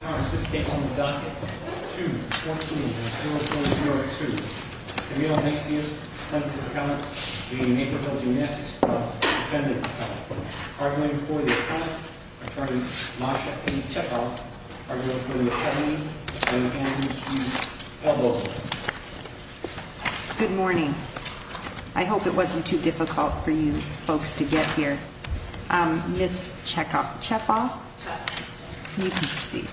This case on the docket, 2-14-0402. Camilo Macias, Attorney for the Accountant, v. Naperville Gymnastics Club, Defendant Accountant. Arguing for the Accountant, Attorney Masha P. Chekhov, arguing for the Accountant, Attorney Anne P. Pelbo. Good morning. I hope it wasn't too difficult for you folks to get here. Ms. Chekhov, you can proceed.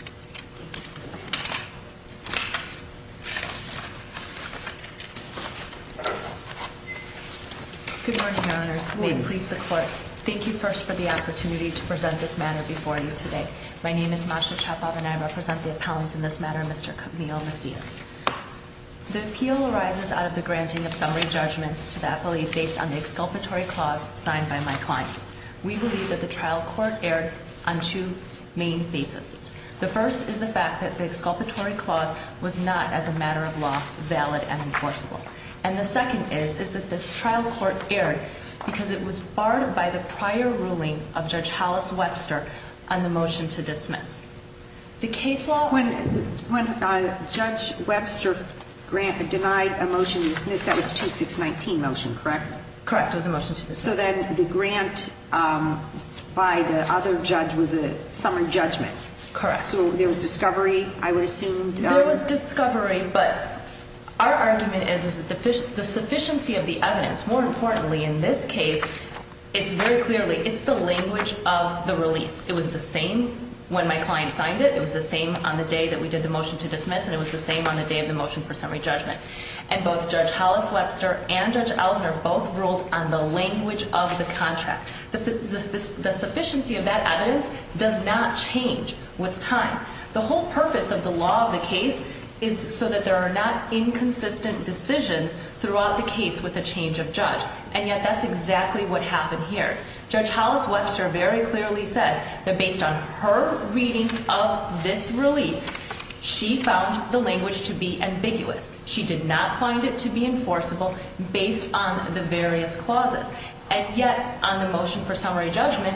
Good morning, Your Honors. Will you please the court? Thank you first for the opportunity to present this matter before you today. My name is Masha Chekhov and I represent the appellants in this matter, Mr. Camilo Macias. The appeal arises out of the granting of summary judgment to the appellee based on the exculpatory clause signed by my client. We believe that the trial court erred on two main bases. The first is the fact that the exculpatory clause was not, as a matter of law, valid and enforceable. And the second is that the trial court erred because it was barred by the prior ruling of Judge Hollis Webster on the motion to dismiss. The case law... When Judge Webster denied a motion to dismiss, that was 2619 motion, correct? Correct. It was a motion to dismiss. So then the grant by the other judge was a summary judgment? Correct. So there was discovery, I would assume? There was discovery, but our argument is that the sufficiency of the evidence, more importantly in this case, it's very clearly, it's the language of the release. It was the same when my client signed it. It was the same on the day that we did the motion to dismiss and it was the same on the day of the motion for summary judgment. And both Judge Hollis Webster and Judge Ellison are both ruled on the language of the contract. The sufficiency of that evidence does not change with time. The whole purpose of the law of the case is so that there are not inconsistent decisions throughout the case with the change of judge. And yet that's exactly what happened here. Judge Hollis Webster very clearly said that based on her reading of this release, she found the language to be ambiguous. She did not find it to be enforceable based on the various clauses. And yet, on the motion for summary judgment,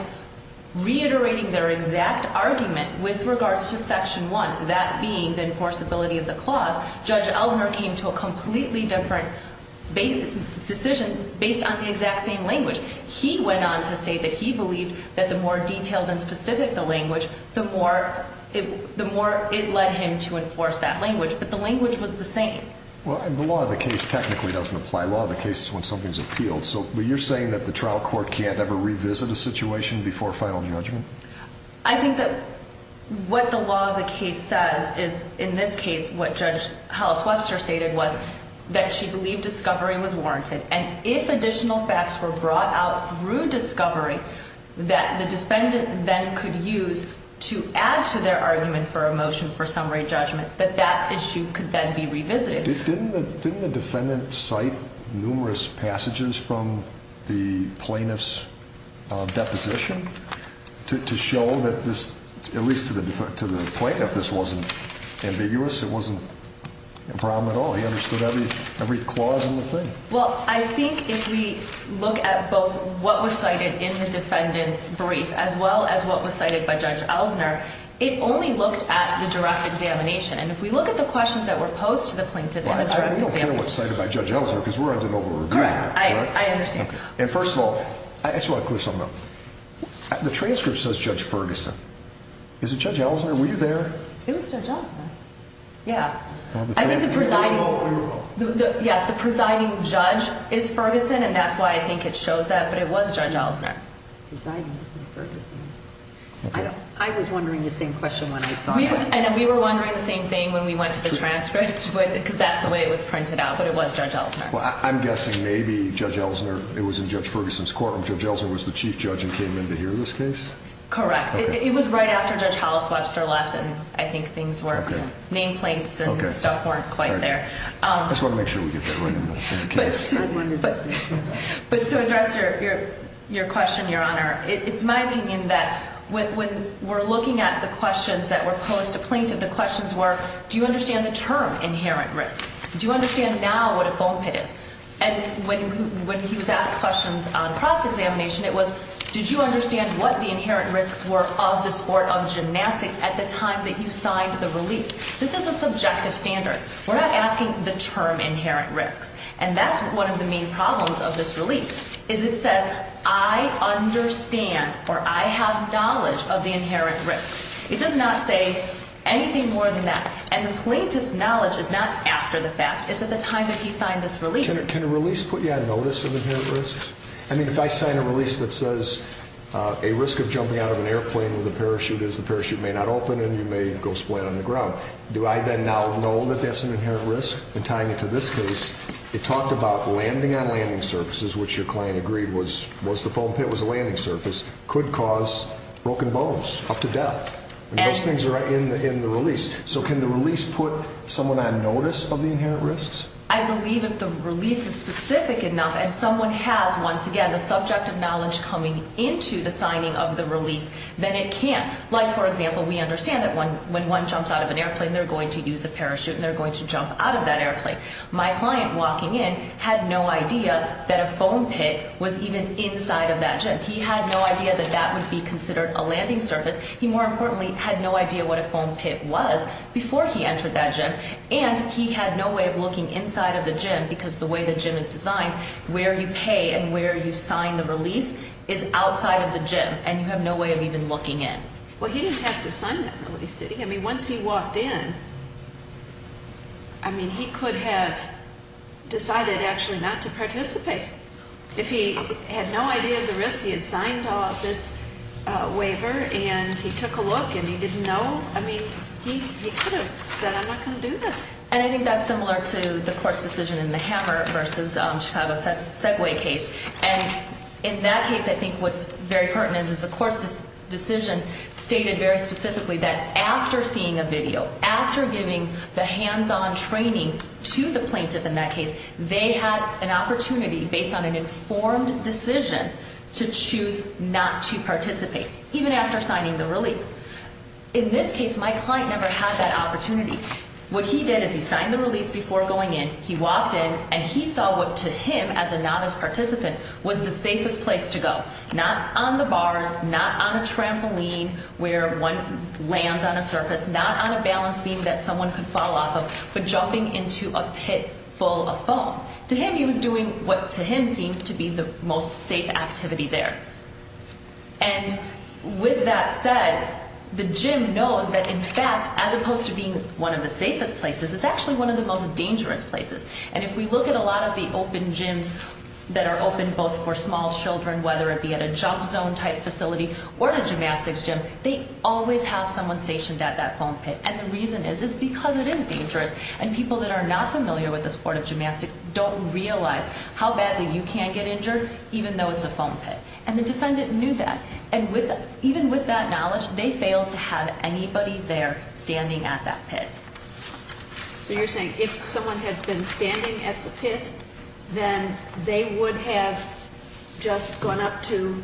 reiterating their exact argument with regards to Section 1, that being the enforceability of the clause, Judge Ellison came to a completely different decision based on the exact same language. He went on to state that he believed that the more detailed and specific the language, the more it led him to enforce that language. But the language was the same. Well, and the law of the case technically doesn't apply. Law of the case is when something is appealed. So, but you're saying that the trial court can't ever revisit a situation before final judgment? I think that what the law of the case says is, in this case, what Judge Hollis Webster stated was that she believed discovery was warranted. And if additional facts were brought out through discovery that the defendant then could use to add to their argument for a motion for summary judgment, that that issue could then be revisited. Didn't the defendant cite numerous passages from the plaintiff's deposition? To show that this, at least to the plaintiff, this wasn't ambiguous, it wasn't a problem at all. He understood every clause in the thing. Well, I think if we look at both what was cited in the defendant's brief, as well as what was cited by Judge Ellisoner, it only looked at the direct examination. And if we look at the questions that were posed to the plaintiff in the direct examination... Well, I don't care what's cited by Judge Ellisoner, because we're on de novo review now. Correct. I understand. And first of all, I just want to clear something up. The transcript says Judge Ferguson. Is it Judge Ellisoner? Were you there? It was Judge Ellisoner. Yeah. Yes, the presiding judge is Ferguson, and that's why I think it shows that. But it was Judge Ellisoner. Presiding judge Ferguson. I was wondering the same question when I saw that. And we were wondering the same thing when we went to the transcript, because that's the way it was printed out. But it was Judge Ellisoner. Well, I'm guessing maybe Judge Ellisoner, it was in Judge Ferguson's court, and Judge Ellisoner was the chief judge and came in to hear this case? Correct. It was right after Judge Hollis Webster left, and I think things were... Nameplates and stuff weren't quite there. I just want to make sure we get that right in the case. But to address your question, Your Honor, it's my opinion that when we're looking at the questions that were posed to Plaintiff, the questions were, do you understand the term inherent risks? Do you understand now what a foam pit is? And when he was asked questions on cross-examination, it was, did you understand what the inherent risks were of the sport of gymnastics at the time that you signed the release? This is a subjective standard. We're not asking the term inherent risks. And that's one of the main problems of this release, is it says, I understand or I have knowledge of the inherent risks. It does not say anything more than that. And the plaintiff's knowledge is not after the fact. It's at the time that he signed this release. Can a release put you on notice of inherent risks? I mean, if I sign a release that says a risk of jumping out of an airplane with a parachute is the parachute may not open and you may go splat on the ground. Do I then now know that that's an inherent risk? And tying it to this case, it talked about landing on landing surfaces, which your client agreed was the foam pit was a landing surface, could cause broken bones up to death. And those things are in the release. So can the release put someone on notice of the inherent risks? I believe if the release is specific enough and someone has, once again, the subjective knowledge coming into the signing of the release, then it can. Like, for example, we understand that when one jumps out of an airplane, they're going to use a parachute and they're going to jump out of that airplane. My client walking in had no idea that a foam pit was even inside of that gym. He had no idea that that would be considered a landing surface. He, more importantly, had no idea what a foam pit was before he entered that gym. And he had no way of looking inside of the gym because the way the gym is designed, where you pay and where you sign the release is outside of the gym. And you have no way of even looking in. Well, he didn't have to sign that release, did he? I mean, once he walked in, I mean, he could have decided actually not to participate. If he had no idea of the risks, he had signed off this waiver and he took a look and he didn't know. I mean, he could have said, I'm not going to do this. And I think that's similar to the court's decision in the Hammer versus Chicago Segway case. And in that case, I think what's very pertinent is the court's decision stated very specifically that after seeing a video, after giving the hands-on training to the plaintiff in that case, they had an opportunity based on an informed decision to choose not to participate, even after signing the release. In this case, my client never had that opportunity. What he did is he signed the release before going in. He walked in and he saw what to him, as a novice participant, was the safest place to go. Not on the bars, not on a trampoline where one lands on a surface, not on a balance beam that someone could fall off of, but jumping into a pit full of foam. To him, he was doing what to him seemed to be the most safe activity there. And with that said, the gym knows that, in fact, as opposed to being one of the safest places, it's actually one of the most dangerous places. And if we look at a lot of the open gyms that are open both for small children, whether it be at a jump zone type facility or a gymnastics gym, they always have someone stationed at that foam pit. And the reason is, is because it is dangerous. And people that are not familiar with the sport of gymnastics don't realize how badly you can get injured even though it's a foam pit. And the defendant knew that. And even with that knowledge, they failed to have anybody there standing at that pit. So you're saying if someone had been standing at the pit, then they would have just gone up to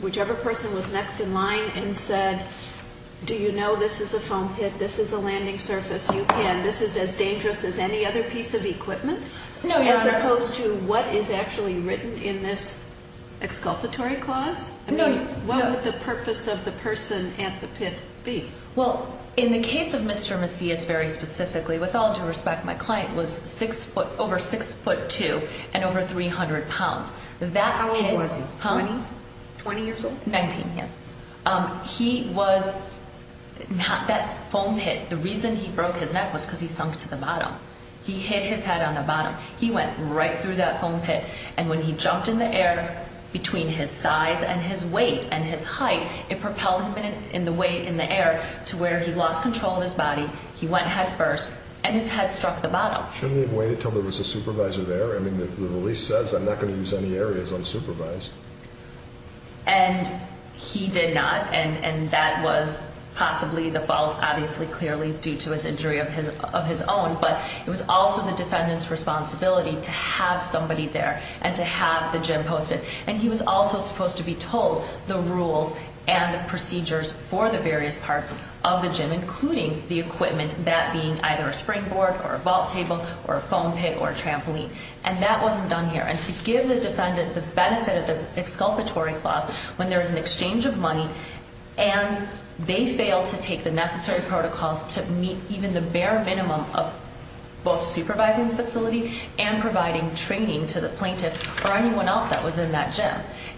whichever person was next in line and said, do you know this is a foam pit? This is a landing surface. You can. This is as dangerous as any other piece of equipment? No, Your Honor. As opposed to what is actually written in this exculpatory clause? No. What would the purpose of the person at the pit be? Well, in the case of Mr. Macias very specifically, with all due respect, my client was over 6'2 and over 300 pounds. How old was he? 20? 20 years old? 19, yes. He was not that foam pit. The reason he broke his neck was because he sunk to the bottom. He hit his head on the bottom. He went right through that foam pit. And when he jumped in the air, between his size and his weight and his height, it propelled him in the air to where he lost control of his body. He went head first. And his head struck the bottom. Shouldn't he have waited until there was a supervisor there? I mean, the release says I'm not going to use any areas unsupervised. And he did not. And that was possibly the fault, obviously, clearly, due to his injury of his own. But it was also the defendant's responsibility to have somebody there and to have the gym posted. And he was also supposed to be told the rules and the procedures for the various parts of the gym, including the equipment, that being either a springboard or a vault table or a foam pit or a trampoline. And that wasn't done here. And to give the defendant the benefit of the exculpatory clause when there is an exchange of money and they fail to take the necessary protocols to meet even the bare minimum of both supervising the facility and providing training to the plaintiff or anyone else that was in that gym.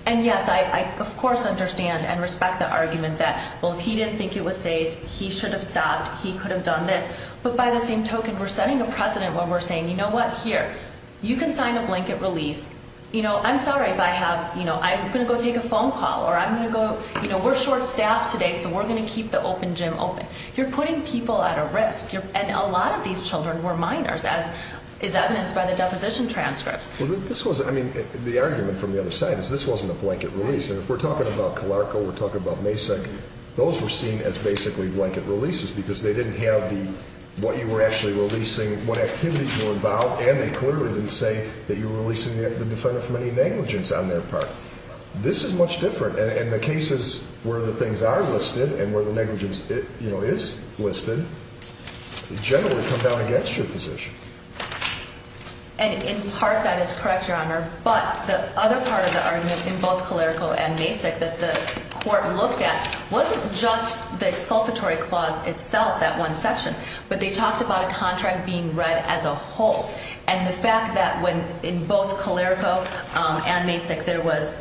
And, yes, I, of course, understand and respect the argument that, well, if he didn't think it was safe, he should have stopped. He could have done this. But by the same token, we're setting a precedent when we're saying, you know what, here, you can sign a blanket release. You know, I'm sorry if I have, you know, I'm going to go take a phone call or I'm going to go, you know, we're short staffed today, so we're going to keep the open gym open. You're putting people at a risk. And a lot of these children were minors, as is evidenced by the deposition transcripts. Well, this was, I mean, the argument from the other side is this wasn't a blanket release. And if we're talking about Calarco, we're talking about Masek, those were seen as basically blanket releases because they didn't have the, what you were actually releasing, what activities were involved, and they clearly didn't say that you were releasing the defendant from any negligence on their part. This is much different. And the cases where the things are listed and where the negligence, you know, is listed, generally come down against your position. And, in part, that is correct, Your Honor. But the other part of the argument in both Calarco and Masek that the court looked at wasn't just the exculpatory clause itself, that one section, but they talked about a contract being read as a whole. And the fact that when, in both Calarco and Masek, there was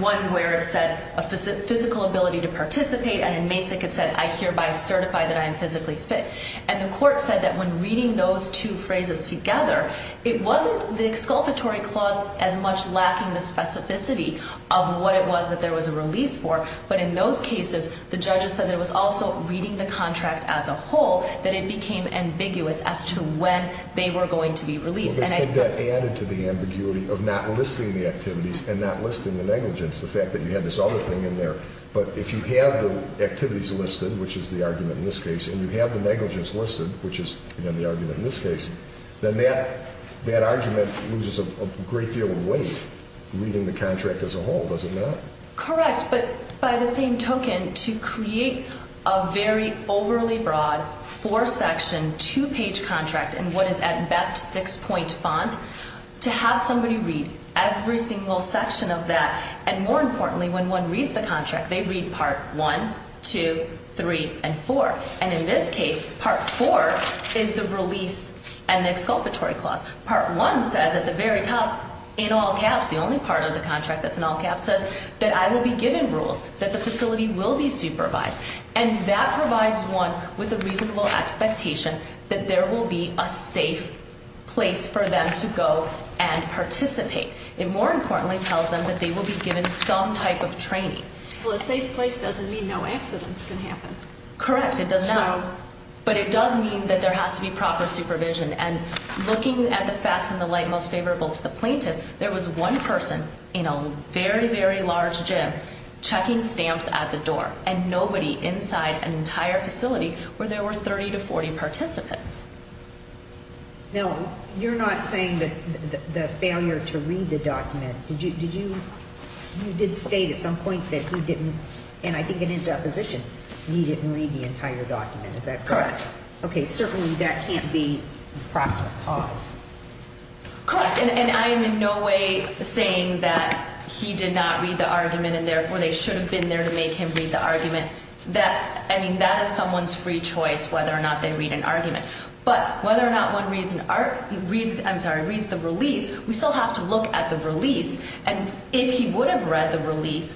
one where it said a physical ability to participate, and in Masek it said I hereby certify that I am physically fit. And the court said that when reading those two phrases together, it wasn't the exculpatory clause as much lacking the specificity of what it was that there was a release for, but in those cases the judges said that it was also reading the contract as a whole, that it became ambiguous as to when they were going to be released. Well, they said that added to the ambiguity of not listing the activities and not listing the negligence, the fact that you had this other thing in there. But if you have the activities listed, which is the argument in this case, and you have the negligence listed, which is, again, the argument in this case, then that argument loses a great deal of weight reading the contract as a whole, does it not? Correct. But by the same token, to create a very overly broad, four-section, two-page contract in what is at best six-point font, to have somebody read every single section of that, and more importantly, when one reads the contract, they read Part 1, 2, 3, and 4. And in this case, Part 4 is the release and the exculpatory clause. Part 1 says at the very top, in all caps, the only part of the contract that's in all caps, says that I will be given rules, that the facility will be supervised. And that provides one with a reasonable expectation that there will be a safe place for them to go and participate. It more importantly tells them that they will be given some type of training. Well, a safe place doesn't mean no accidents can happen. Correct. It does not. But it does mean that there has to be proper supervision. And looking at the facts in the light most favorable to the plaintiff, there was one person in a very, very large gym checking stamps at the door, and nobody inside an entire facility where there were 30 to 40 participants. Now, you're not saying that the failure to read the document, did you? You did state at some point that he didn't, and I think in interposition, he didn't read the entire document. Is that correct? Correct. Okay, certainly that can't be the proximate cause. Correct. And I am in no way saying that he did not read the argument and therefore they should have been there to make him read the argument. I mean, that is someone's free choice whether or not they read an argument. But whether or not one reads the release, we still have to look at the release. And if he would have read the release,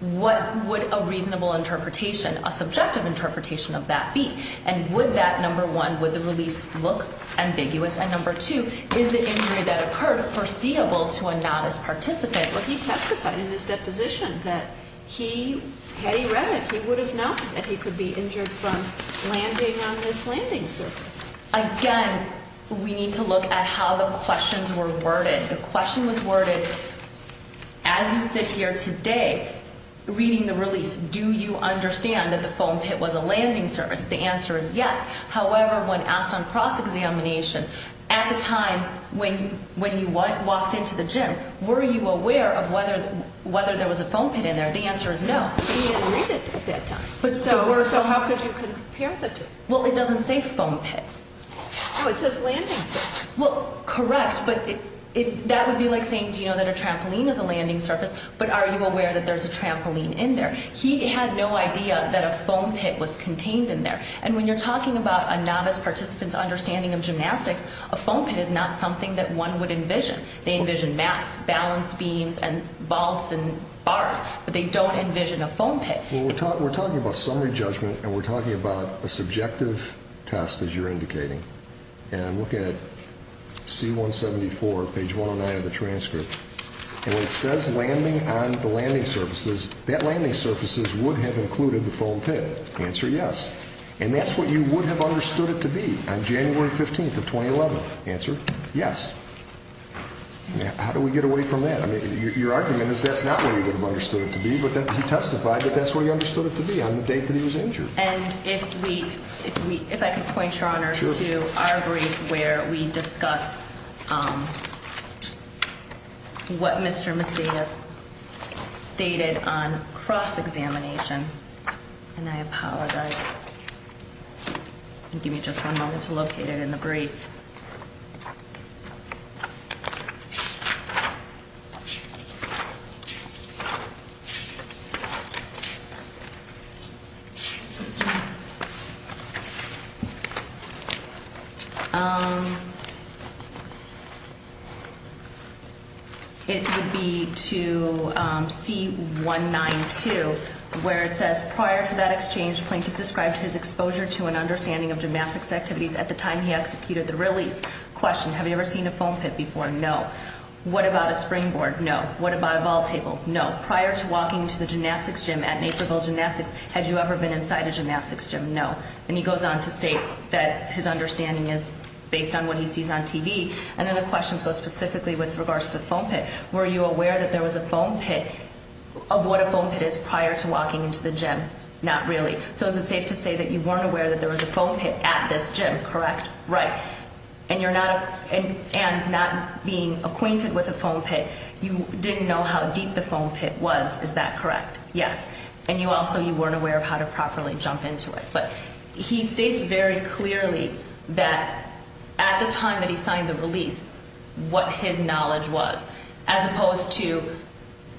what would a reasonable interpretation, a subjective interpretation of that be? And would that, number one, would the release look ambiguous? And number two, is the injury that occurred foreseeable to a novice participant? Well, he testified in his deposition that had he read it, he would have known that he could be injured from landing on this landing surface. Again, we need to look at how the questions were worded. The question was worded, as you sit here today reading the release, do you understand that the foam pit was a landing surface? The answer is yes. However, when asked on cross-examination at the time when you walked into the gym, were you aware of whether there was a foam pit in there? The answer is no. He didn't read it at that time. So how could you compare the two? Well, it doesn't say foam pit. No, it says landing surface. Well, correct, but that would be like saying, do you know that a trampoline is a landing surface, but are you aware that there's a trampoline in there? He had no idea that a foam pit was contained in there. And when you're talking about a novice participant's understanding of gymnastics, a foam pit is not something that one would envision. They envision mats, balance beams, and bulbs and bars, but they don't envision a foam pit. Well, we're talking about summary judgment, and we're talking about a subjective test, as you're indicating. And look at C-174, page 109 of the transcript. And it says landing on the landing surfaces. That landing surfaces would have included the foam pit. Answer, yes. And that's what you would have understood it to be on January 15th of 2011. Answer, yes. How do we get away from that? I mean, your argument is that's not what he would have understood it to be, but he testified that that's what he understood it to be on the date that he was injured. And if I could point, Your Honor, to our brief where we discuss what Mr. Macias stated on cross-examination, and I apologize. Give me just one moment to locate it in the brief. It would be to C-192, where it says, prior to that exchange, Plaintiff described his exposure to and understanding of gymnastics activities at the time he executed the release. Question, have you ever seen a foam pit before? No. What about a springboard? No. What about a ball table? No. Prior to walking into the gymnastics gym at Naperville Gymnastics, had you ever been inside a gymnastics gym? No. And he goes on to state that his understanding is based on what he sees on TV. And then the question goes specifically with regards to the foam pit. Were you aware that there was a foam pit of what a foam pit is prior to walking into the gym? Not really. So is it safe to say that you weren't aware that there was a foam pit at this gym, correct? Right. And you're not being acquainted with a foam pit. You didn't know how deep the foam pit was, is that correct? Yes. And you also weren't aware of how to properly jump into it. But he states very clearly that at the time that he signed the release, what his knowledge was, as opposed to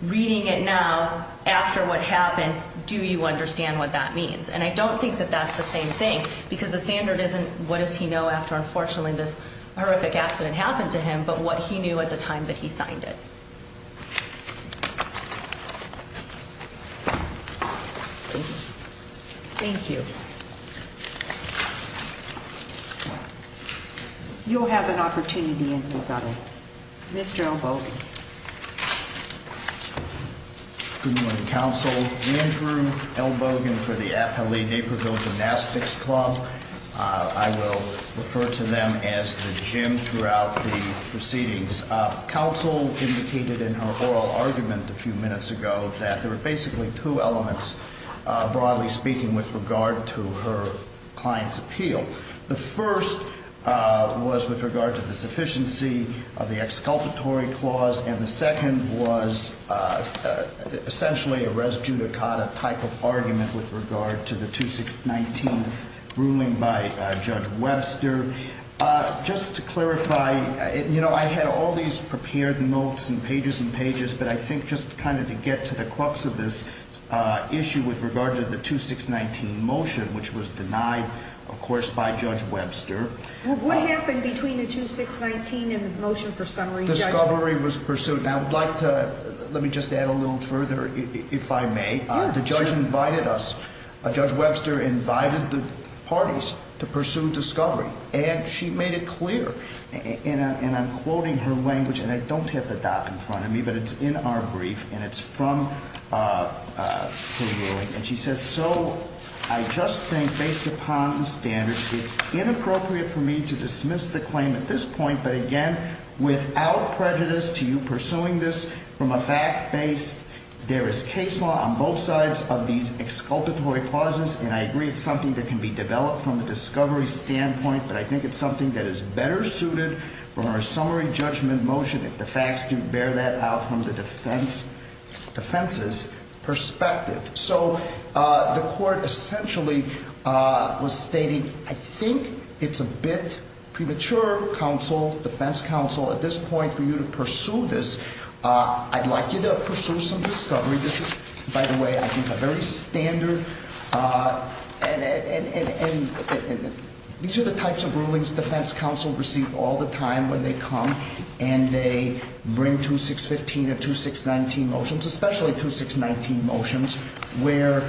reading it now, after what happened, do you understand what that means? And I don't think that that's the same thing because the standard isn't what does he know after, unfortunately, this horrific accident happened to him, but what he knew at the time that he signed it. Thank you. Thank you. You'll have an opportunity in recovery. Mr. Elbogen. Good morning, counsel. Andrew Elbogen for the Appalachia-Naperville Gymnastics Club. I will refer to them as the gym throughout the proceedings. Counsel indicated in her oral argument a few minutes ago that there were basically two elements, broadly speaking, with regard to her client's appeal. The first was with regard to the sufficiency of the exculpatory clause. And the second was essentially a res judicata type of argument with regard to the 2619 ruling by Judge Webster. Just to clarify, you know, I had all these prepared notes and pages and pages, but I think just kind of to get to the crux of this issue with regard to the 2619 motion, which was denied, of course, by Judge Webster. What happened between the 2619 and the motion for summary? Discovery was pursued. Now, I would like to let me just add a little further, if I may. The judge invited us. Judge Webster invited the parties to pursue discovery, and she made it clear. And I'm quoting her language, and I don't have the doc in front of me, but it's in our brief, and it's from her ruling. And she says, so I just think, based upon the standards, it's inappropriate for me to dismiss the claim at this point. But again, without prejudice to you pursuing this from a fact-based, there is case law on both sides of these exculpatory clauses. And I agree it's something that can be developed from a discovery standpoint, but I think it's something that is better suited from our summary judgment motion, if the facts do bear that out from the defense's perspective. So the court essentially was stating, I think it's a bit premature, counsel, defense counsel, at this point for you to pursue this. I'd like you to pursue some discovery. This is, by the way, I think a very standard, and these are the types of rulings defense counsel receive all the time when they come. And they bring 2615 and 2619 motions, especially 2619 motions, where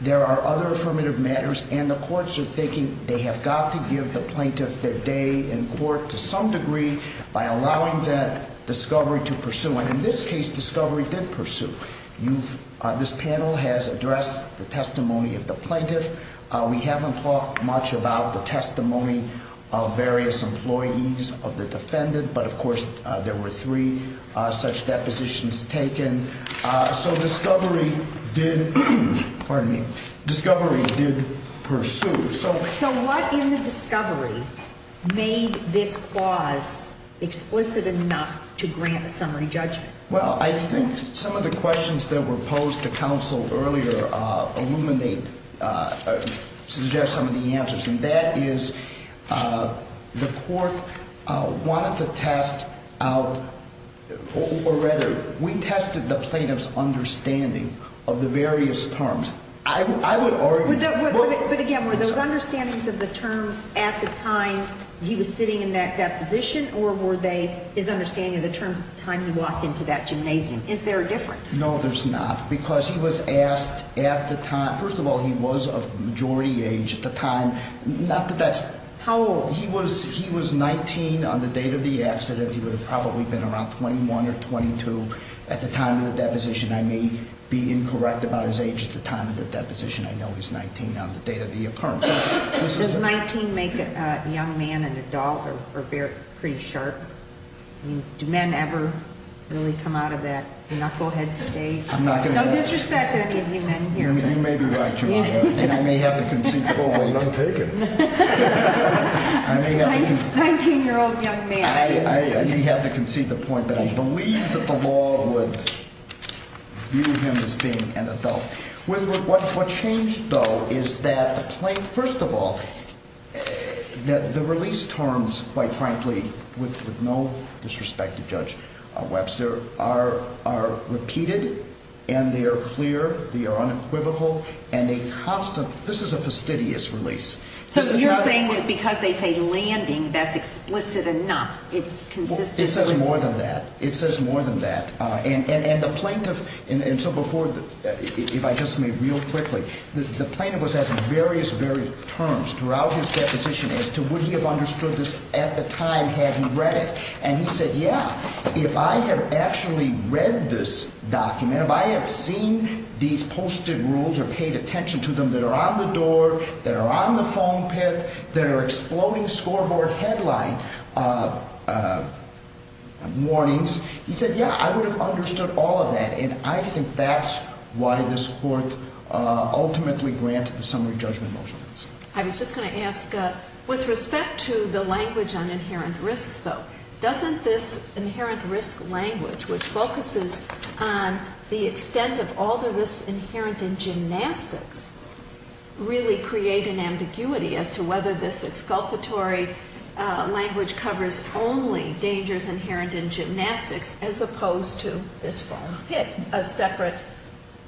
there are other affirmative matters. And the courts are thinking they have got to give the plaintiff their day in court to some degree by allowing that discovery to pursue. And in this case, discovery did pursue. This panel has addressed the testimony of the plaintiff. We haven't talked much about the testimony of various employees of the defendant, but of course there were three such depositions taken. So discovery did, pardon me, discovery did pursue. So what in the discovery made this clause explicit enough to grant a summary judgment? Well, I think some of the questions that were posed to counsel earlier illuminate, suggest some of the answers. And that is the court wanted to test out, or rather, we tested the plaintiff's understanding of the various terms. I would argue- But again, were those understandings of the terms at the time he was sitting in that deposition, or were they his understanding of the terms at the time he walked into that gymnasium? Is there a difference? No, there's not. Because he was asked at the time, first of all, he was of majority age at the time. Not that that's- How old? He was 19 on the date of the accident. He would have probably been around 21 or 22 at the time of the deposition. I may be incorrect about his age at the time of the deposition. I know he's 19 on the date of the occurrence. Does 19 make a young man an adult or pretty sharp? I mean, do men ever really come out of that knucklehead stage? I'm not going to- No disrespect to any of you men here. I mean, you may be right, Your Honor. And I may have the conceivable- Well, don't take it. I may have- A 19-year-old young man. I may have to concede the point that I believe that the law would view him as being an adult. What changed, though, is that, first of all, the release terms, quite frankly, with no disrespect to Judge Webster, are repeated and they are clear, they are unequivocal, and they constantly- This is a fastidious release. So you're saying that because they say landing, that's explicit enough. It's consistent- It says more than that. It says more than that. And the plaintiff- And so before- If I just may real quickly. The plaintiff was asking various, various terms throughout his deposition as to would he have understood this at the time had he read it. And he said, yeah, if I had actually read this document, if I had seen these posted rules or paid attention to them that are on the door, that are on the phone pit, that are exploding scoreboard headline warnings, he said, yeah, I would have understood all of that. And I think that's why this Court ultimately granted the summary judgment motion. I was just going to ask, with respect to the language on inherent risks, though, doesn't this inherent risk language, which focuses on the extent of all the risks inherent in gymnastics, really create an ambiguity as to whether this exculpatory language covers only dangers inherent in gymnastics, as opposed to this phone pit, a separate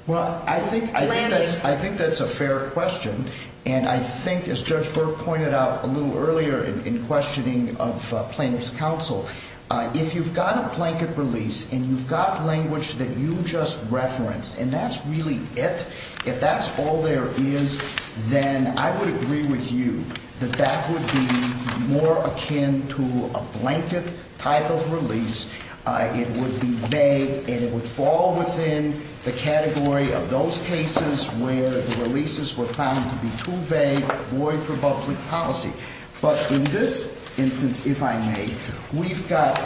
landing site? Well, I think that's a fair question. And I think, as Judge Burke pointed out a little earlier in questioning of plaintiff's counsel, if you've got a blanket release and you've got language that you just referenced and that's really it, if that's all there is, then I would agree with you that that would be more akin to a blanket type of release. It would be vague and it would fall within the category of those cases where the releases were found to be too vague, void for public policy. But in this instance, if I may, we've got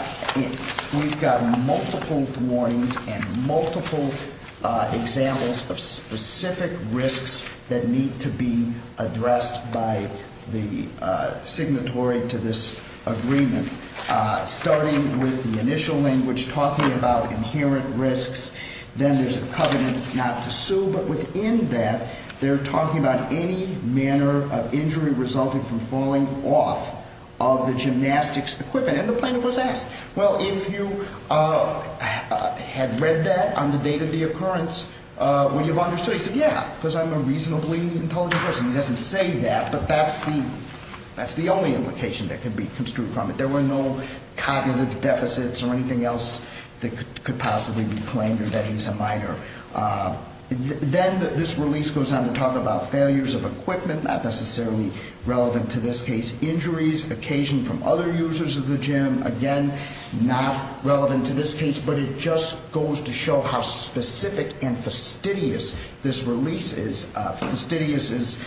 multiple warnings and multiple examples of specific risks that need to be addressed by the signatory to this agreement. Starting with the initial language talking about inherent risks, then there's a covenant not to sue. But within that, they're talking about any manner of injury resulting from falling off of the gymnastics equipment. And the plaintiff was asked, well, if you had read that on the date of the occurrence, would you have understood? He said, yeah, because I'm a reasonably intelligent person. He doesn't say that, but that's the only implication that can be construed from it. There were no cognitive deficits or anything else that could possibly be claimed or that he's a minor. Then this release goes on to talk about failures of equipment, not necessarily relevant to this case. Injuries occasioned from other users of the gym, again, not relevant to this case, but it just goes to show how specific and fastidious this release is. Fastidious is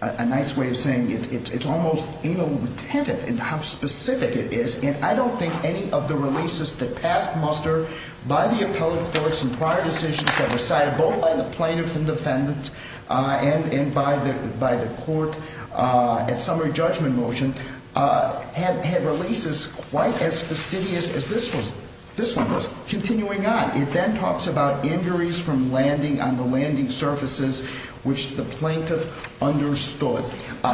a nice way of saying it. It's almost anal-retentive in how specific it is. And I don't think any of the releases that passed muster by the appellate courts and prior decisions that were cited, both by the plaintiff and defendant and by the court at summary judgment motion, had releases quite as fastidious as this one. This one was continuing on. It then talks about injuries from landing on the landing surfaces, which the plaintiff understood.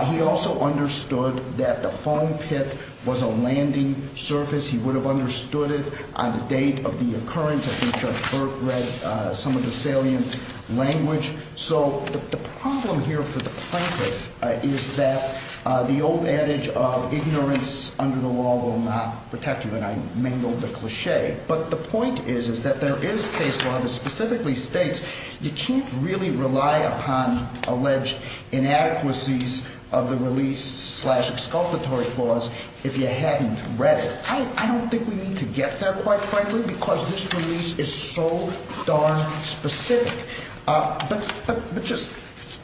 He also understood that the foam pit was a landing surface. He would have understood it on the date of the occurrence. I think Judge Burke read some of the salient language. So the problem here for the plaintiff is that the old adage of ignorance under the law will not protect you, and I mingled the cliche. But the point is, is that there is case law that specifically states you can't really rely upon alleged inadequacies of the release slash exculpatory clause if you hadn't read it. I don't think we need to get there, quite frankly, because this release is so darn specific. But just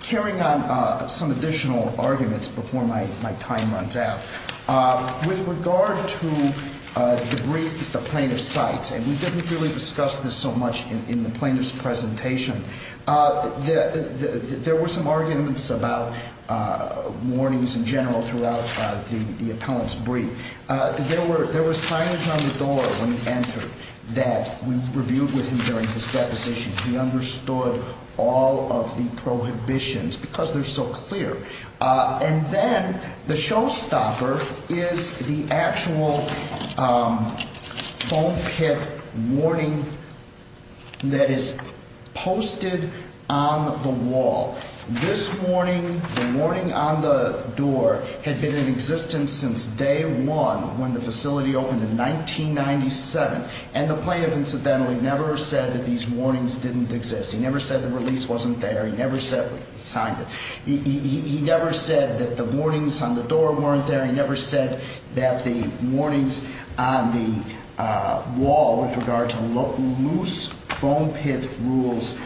carrying on some additional arguments before my time runs out. With regard to the brief that the plaintiff cites, and we didn't really discuss this so much in the plaintiff's presentation, there were some arguments about warnings in general throughout the appellant's brief. There was signage on the door when he entered that we reviewed with him during his deposition. He understood all of the prohibitions because they're so clear. And then the showstopper is the actual foam pit warning that is posted on the wall. This warning, the warning on the door, had been in existence since day one when the facility opened in 1997. And the plaintiff incidentally never said that these warnings didn't exist. He never said the release wasn't there. He never said we signed it. He never said that the warnings on the door weren't there. He never said that the warnings on the wall with regard to loose foam pit rules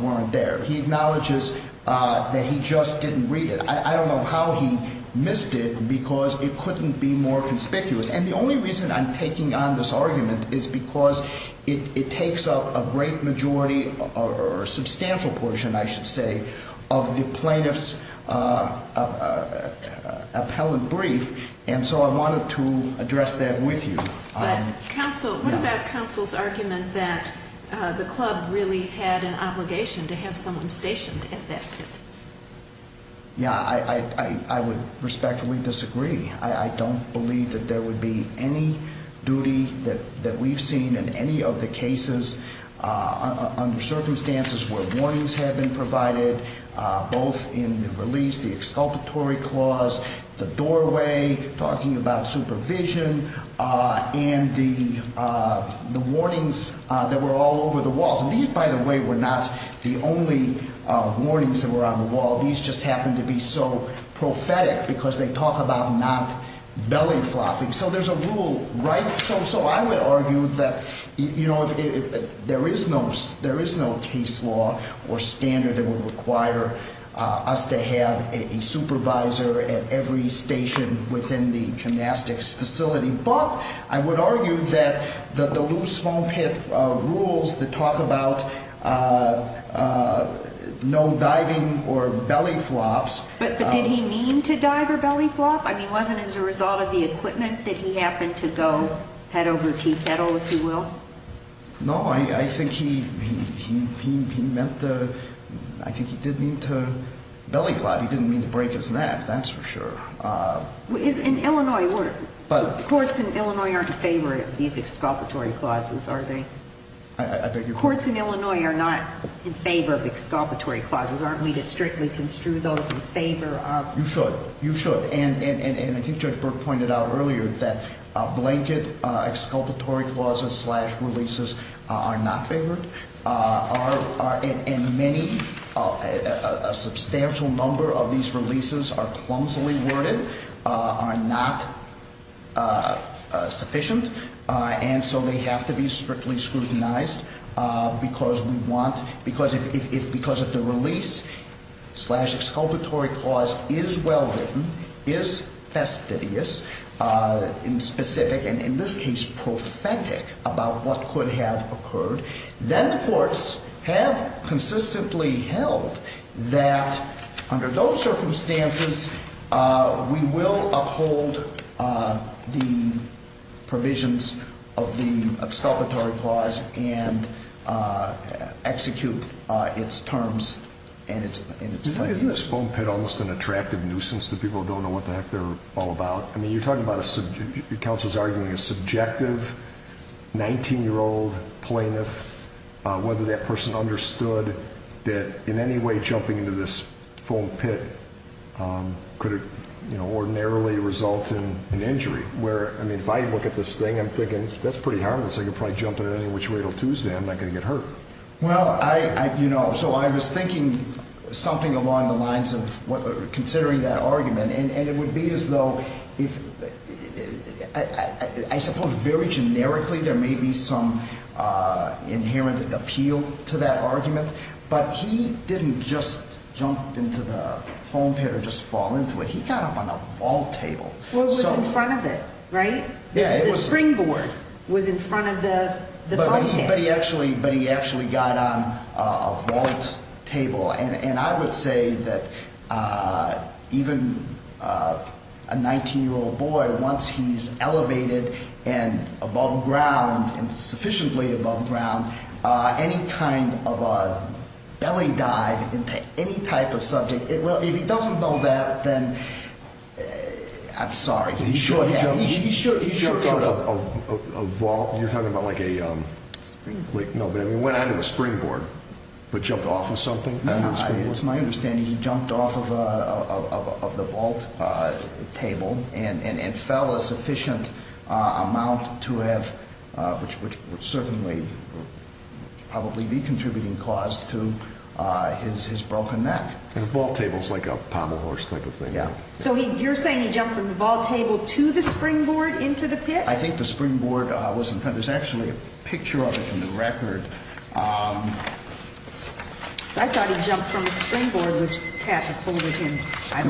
weren't there. He acknowledges that he just didn't read it. I don't know how he missed it because it couldn't be more conspicuous. And the only reason I'm taking on this argument is because it takes up a great majority or a substantial portion, I should say, of the plaintiff's appellant brief, and so I wanted to address that with you. But what about counsel's argument that the club really had an obligation to have someone stationed at that pit? Yeah, I would respectfully disagree. I don't believe that there would be any duty that we've seen in any of the cases under circumstances where warnings have been provided, both in the release, the exculpatory clause, the doorway, talking about supervision, and the warnings that were all over the walls. And these, by the way, were not the only warnings that were on the wall. These just happened to be so prophetic because they talk about not belly flopping. So I would argue that there is no case law or standard that would require us to have a supervisor at every station within the gymnastics facility, but I would argue that the loose foam pit rules that talk about no diving or belly flops. But did he mean to dive or belly flop? I mean, wasn't it as a result of the equipment that he happened to go head over teeth, heddle, if you will? No, I think he meant to – I think he did mean to belly flop. He didn't mean to break his neck, that's for sure. In Illinois, courts in Illinois aren't in favor of these exculpatory clauses, are they? I beg your pardon? Courts in Illinois are not in favor of exculpatory clauses. Aren't we to strictly construe those in favor of – You should. You should. And I think Judge Burke pointed out earlier that blanket exculpatory clauses slash releases are not favored. And many – a substantial number of these releases are clumsily worded, are not sufficient, and so they have to be strictly scrutinized because we want – because if the release slash exculpatory clause is well written, is fastidious, in specific, and in this case prophetic about what could have occurred, then the courts have consistently held that under those circumstances we will uphold the provisions of the exculpatory clause and execute its terms and its – Isn't this foam pit almost an attractive nuisance to people who don't know what the heck they're all about? I mean, you're talking about a – the counsel's arguing a subjective 19-year-old plaintiff, whether that person understood that in any way jumping into this foam pit could ordinarily result in an injury, where, I mean, if I look at this thing, I'm thinking, that's pretty harmless. I could probably jump in at any which way. It'll Tuesday. I'm not going to get hurt. Well, I – you know, so I was thinking something along the lines of considering that argument, and it would be as though if – I suppose very generically there may be some inherent appeal to that argument, but he didn't just jump into the foam pit or just fall into it. He got up on a vault table. Well, it was in front of it, right? Yeah, it was – The springboard was in front of the foam pit. But he actually got on a vault table. And I would say that even a 19-year-old boy, once he's elevated and above ground and sufficiently above ground, any kind of a belly dive into any type of subject, it will – if he doesn't know that, then I'm sorry. He jumped off a vault. You're talking about like a – Springboard. No, but he went onto a springboard, but jumped off of something. It's my understanding he jumped off of the vault table and fell a sufficient amount to have – which would certainly probably be contributing cause to his broken neck. And a vault table is like a pommel horse type of thing. So you're saying he jumped from the vault table to the springboard into the pit? I think the springboard was in front. There's actually a picture of it in the record. I thought he jumped from the springboard, which Cat had folded him.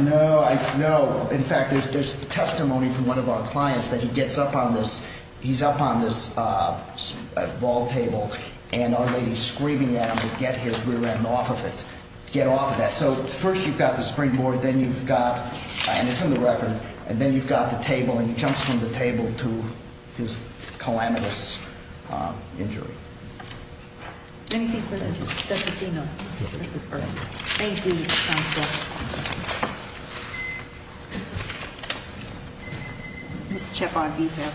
No, no. In fact, there's testimony from one of our clients that he gets up on this – he's up on this vault table, and our lady's screaming at him to get his rear end off of it, get off of that. So first you've got the springboard, then you've got – and it's in the record – and then you've got the table, and he jumps from the table to his calamitous injury. Anything for the – Thank you. That's Athena. Thank you, counsel. Ms. Chepon-Vigil.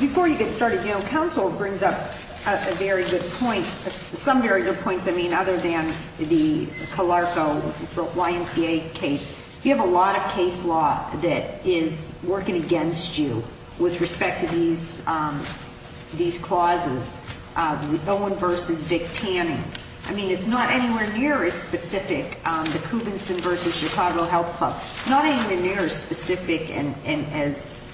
Before you get started, counsel, it brings up a very good point, some very good points, I mean, other than the Calarco YMCA case. You have a lot of case law that is working against you with respect to these clauses, Owen v. Vic Tanning. I mean, it's not anywhere near as specific, the Coubinson v. Chicago Health Club. Not anywhere near as specific and as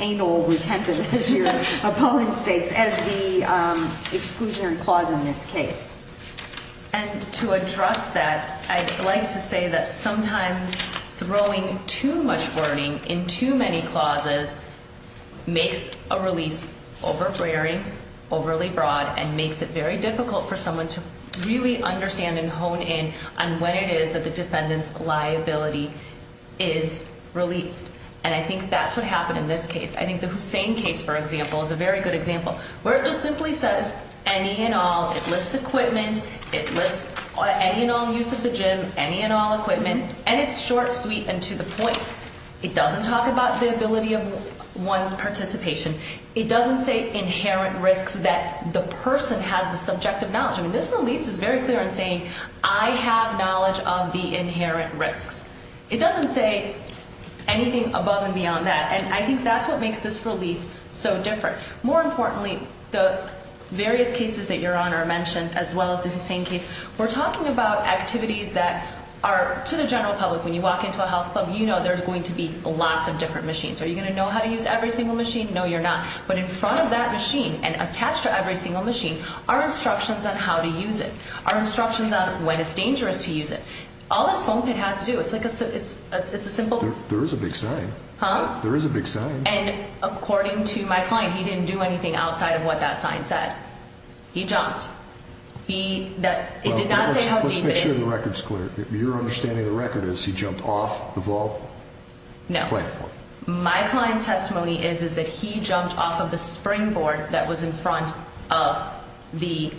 anal-retentive, as your opponent states, as the exclusionary clause in this case. And to address that, I'd like to say that sometimes throwing too much wording in too many clauses makes a release overbearing, overly broad, and makes it very difficult for someone to really understand and hone in on when it is that the defendant's liability is released. And I think that's what happened in this case. I think the Hussein case, for example, is a very good example, where it just simply says, any and all, it lists equipment, it lists any and all use of the gym, any and all equipment, and it's short, sweet, and to the point. It doesn't talk about the ability of one's participation. It doesn't say inherent risks that the person has the subjective knowledge. I mean, this release is very clear in saying, I have knowledge of the inherent risks. It doesn't say anything above and beyond that. And I think that's what makes this release so different. More importantly, the various cases that your Honor mentioned, as well as the Hussein case, we're talking about activities that are to the general public. When you walk into a health club, you know there's going to be lots of different machines. Are you going to know how to use every single machine? No, you're not. But in front of that machine and attached to every single machine are instructions on how to use it, are instructions on when it's dangerous to use it. All this foam pit had to do, it's like a simple... There is a big sign. Huh? There is a big sign. And according to my client, he didn't do anything outside of what that sign said. He jumped. It did not say how deep it is. Let's make sure the record's clear. Your understanding of the record is he jumped off the vault? No. The platform. My client's testimony is that he jumped off of the springboard that was in front of the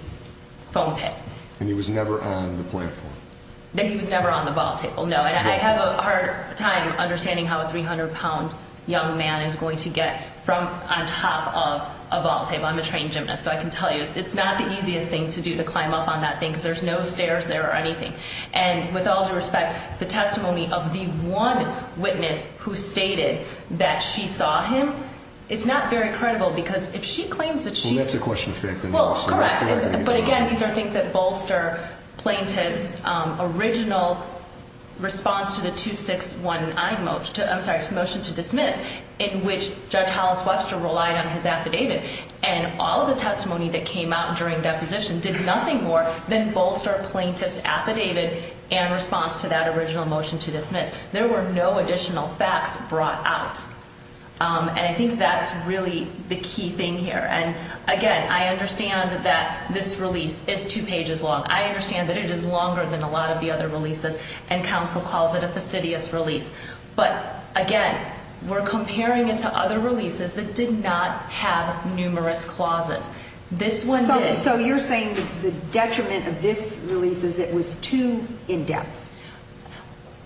foam pit. And he was never on the platform? That he was never on the vault table, no. And I have a hard time understanding how a 300-pound young man is going to get from on top of a vault table. I'm a trained gymnast, so I can tell you it's not the easiest thing to do to climb up on that thing because there's no stairs there or anything. And with all due respect, the testimony of the one witness who stated that she saw him, it's not very credible because if she claims that she saw him... Well, that's a question of fact. Well, correct. But again, these are things that bolster plaintiff's original response to the 2619 motion to dismiss in which Judge Hollis Webster relied on his affidavit. And all of the testimony that came out during deposition did nothing more than bolster plaintiff's affidavit and response to that original motion to dismiss. There were no additional facts brought out. And I think that's really the key thing here. And again, I understand that this release is two pages long. I understand that it is longer than a lot of the other releases, and counsel calls it a fastidious release. But again, we're comparing it to other releases that did not have numerous clauses. This one did. So you're saying the detriment of this release is it was too in-depth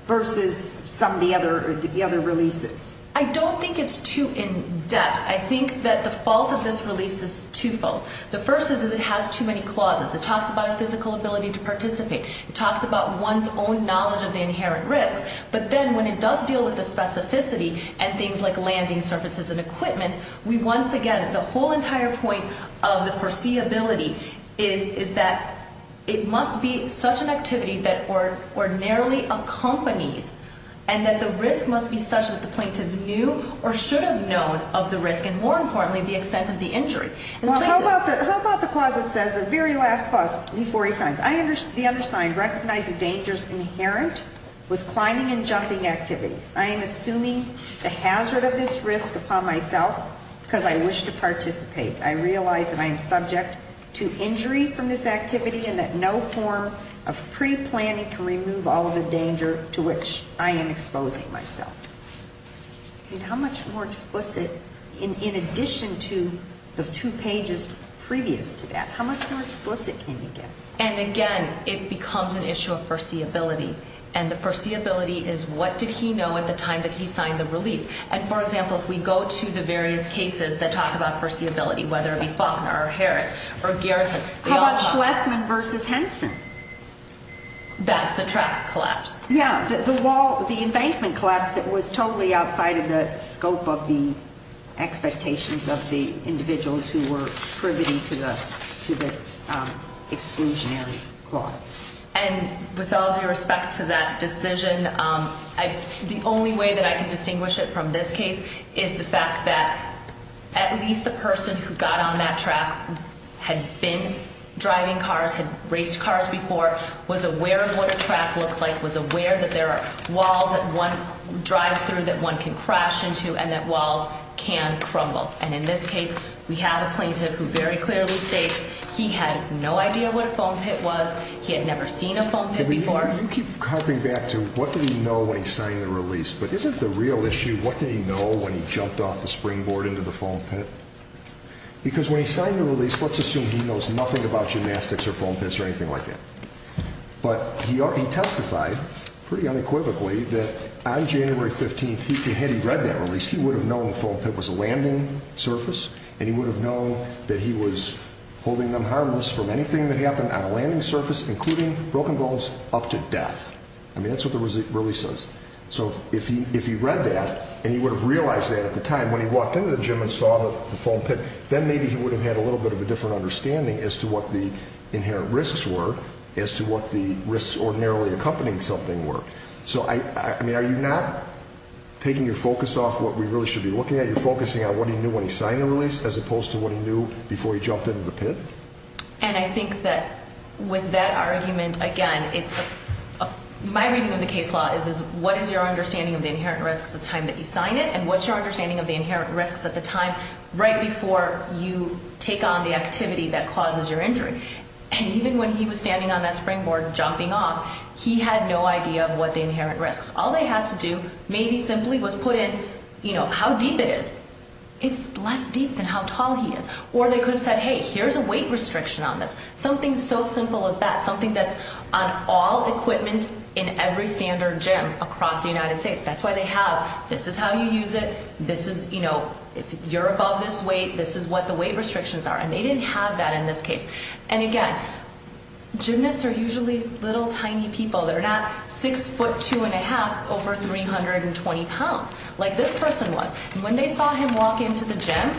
versus some of the other releases? I don't think it's too in-depth. I think that the fault of this release is twofold. The first is that it has too many clauses. It talks about a physical ability to participate. It talks about one's own knowledge of the inherent risks. But then when it does deal with the specificity and things like landing surfaces and equipment, we once again, the whole entire point of the foreseeability is that it must be such an activity that ordinarily accompanies and that the risk must be such that the plaintiff knew or should have known of the risk, and more importantly, the extent of the injury. Well, how about the clause that says, the very last clause before he signs, recognize the dangers inherent with climbing and jumping activities. I am assuming the hazard of this risk upon myself because I wish to participate. I realize that I am subject to injury from this activity and that no form of pre-planning can remove all of the danger to which I am exposing myself. And how much more explicit, in addition to the two pages previous to that, how much more explicit can you get? And again, it becomes an issue of foreseeability. And the foreseeability is what did he know at the time that he signed the release. And for example, if we go to the various cases that talk about foreseeability, whether it be Faulkner or Harris or Garrison. How about Schlesman v. Henson? That's the track collapse. Yeah, the wall, the embankment collapse that was totally outside of the scope of the expectations of the individuals who were privy to the exclusionary clause. And with all due respect to that decision, the only way that I can distinguish it from this case is the fact that at least the person who got on that track had been driving cars, had raced cars before, was aware of what a track looks like, was aware that there are walls that one drives through that one can crash into and that walls can crumble. And in this case, we have a plaintiff who very clearly states he had no idea what a foam pit was. He had never seen a foam pit before. You keep harping back to what did he know when he signed the release. But isn't the real issue what did he know when he jumped off the springboard into the foam pit? Because when he signed the release, let's assume he knows nothing about gymnastics or foam pits or anything like that. But he testified pretty unequivocally that on January 15th, had he read that release, he would have known the foam pit was a landing surface and he would have known that he was holding them harmless from anything that happened on a landing surface, including broken bones, up to death. I mean, that's what the release says. So if he read that and he would have realized that at the time when he walked into the gym and saw the foam pit, then maybe he would have had a little bit of a different understanding as to what the inherent risks were, as to what the risks ordinarily accompanying something were. So, I mean, are you not taking your focus off what we really should be looking at? You're focusing on what he knew when he signed the release as opposed to what he knew before he jumped into the pit? And I think that with that argument, again, my reading of the case law is what is your understanding of the inherent risks the time that you sign it and what's your understanding of the inherent risks at the time right before you take on the activity that causes your injury? And even when he was standing on that springboard jumping off, he had no idea of what the inherent risks. All they had to do maybe simply was put in, you know, how deep it is. It's less deep than how tall he is. Or they could have said, hey, here's a weight restriction on this, something so simple as that, something that's on all equipment in every standard gym across the United States. That's why they have this is how you use it. This is, you know, if you're above this weight, this is what the weight restrictions are. And they didn't have that in this case. And again, gymnasts are usually little tiny people. They're not 6'2 1⁄2", over 320 pounds like this person was. And when they saw him walk into the gym,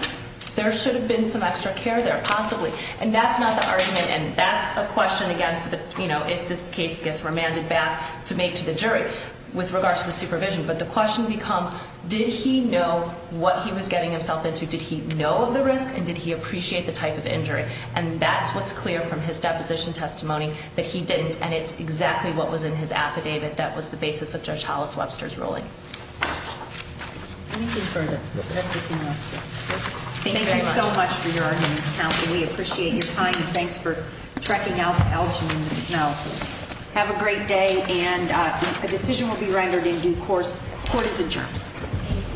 there should have been some extra care there, possibly. And that's not the argument, and that's a question, again, you know, if this case gets remanded back to make to the jury with regards to the supervision. But the question becomes did he know what he was getting himself into? Did he know of the risk? And did he appreciate the type of injury? And that's what's clear from his deposition testimony, that he didn't. And it's exactly what was in his affidavit that was the basis of Judge Hollis Webster's ruling. Anything further? That's all I have. Thank you very much. Thank you so much for your arguments, counsel. We appreciate your time, and thanks for trekking out to Elgin in the snow. Have a great day, and a decision will be rendered in due course. Court is adjourned.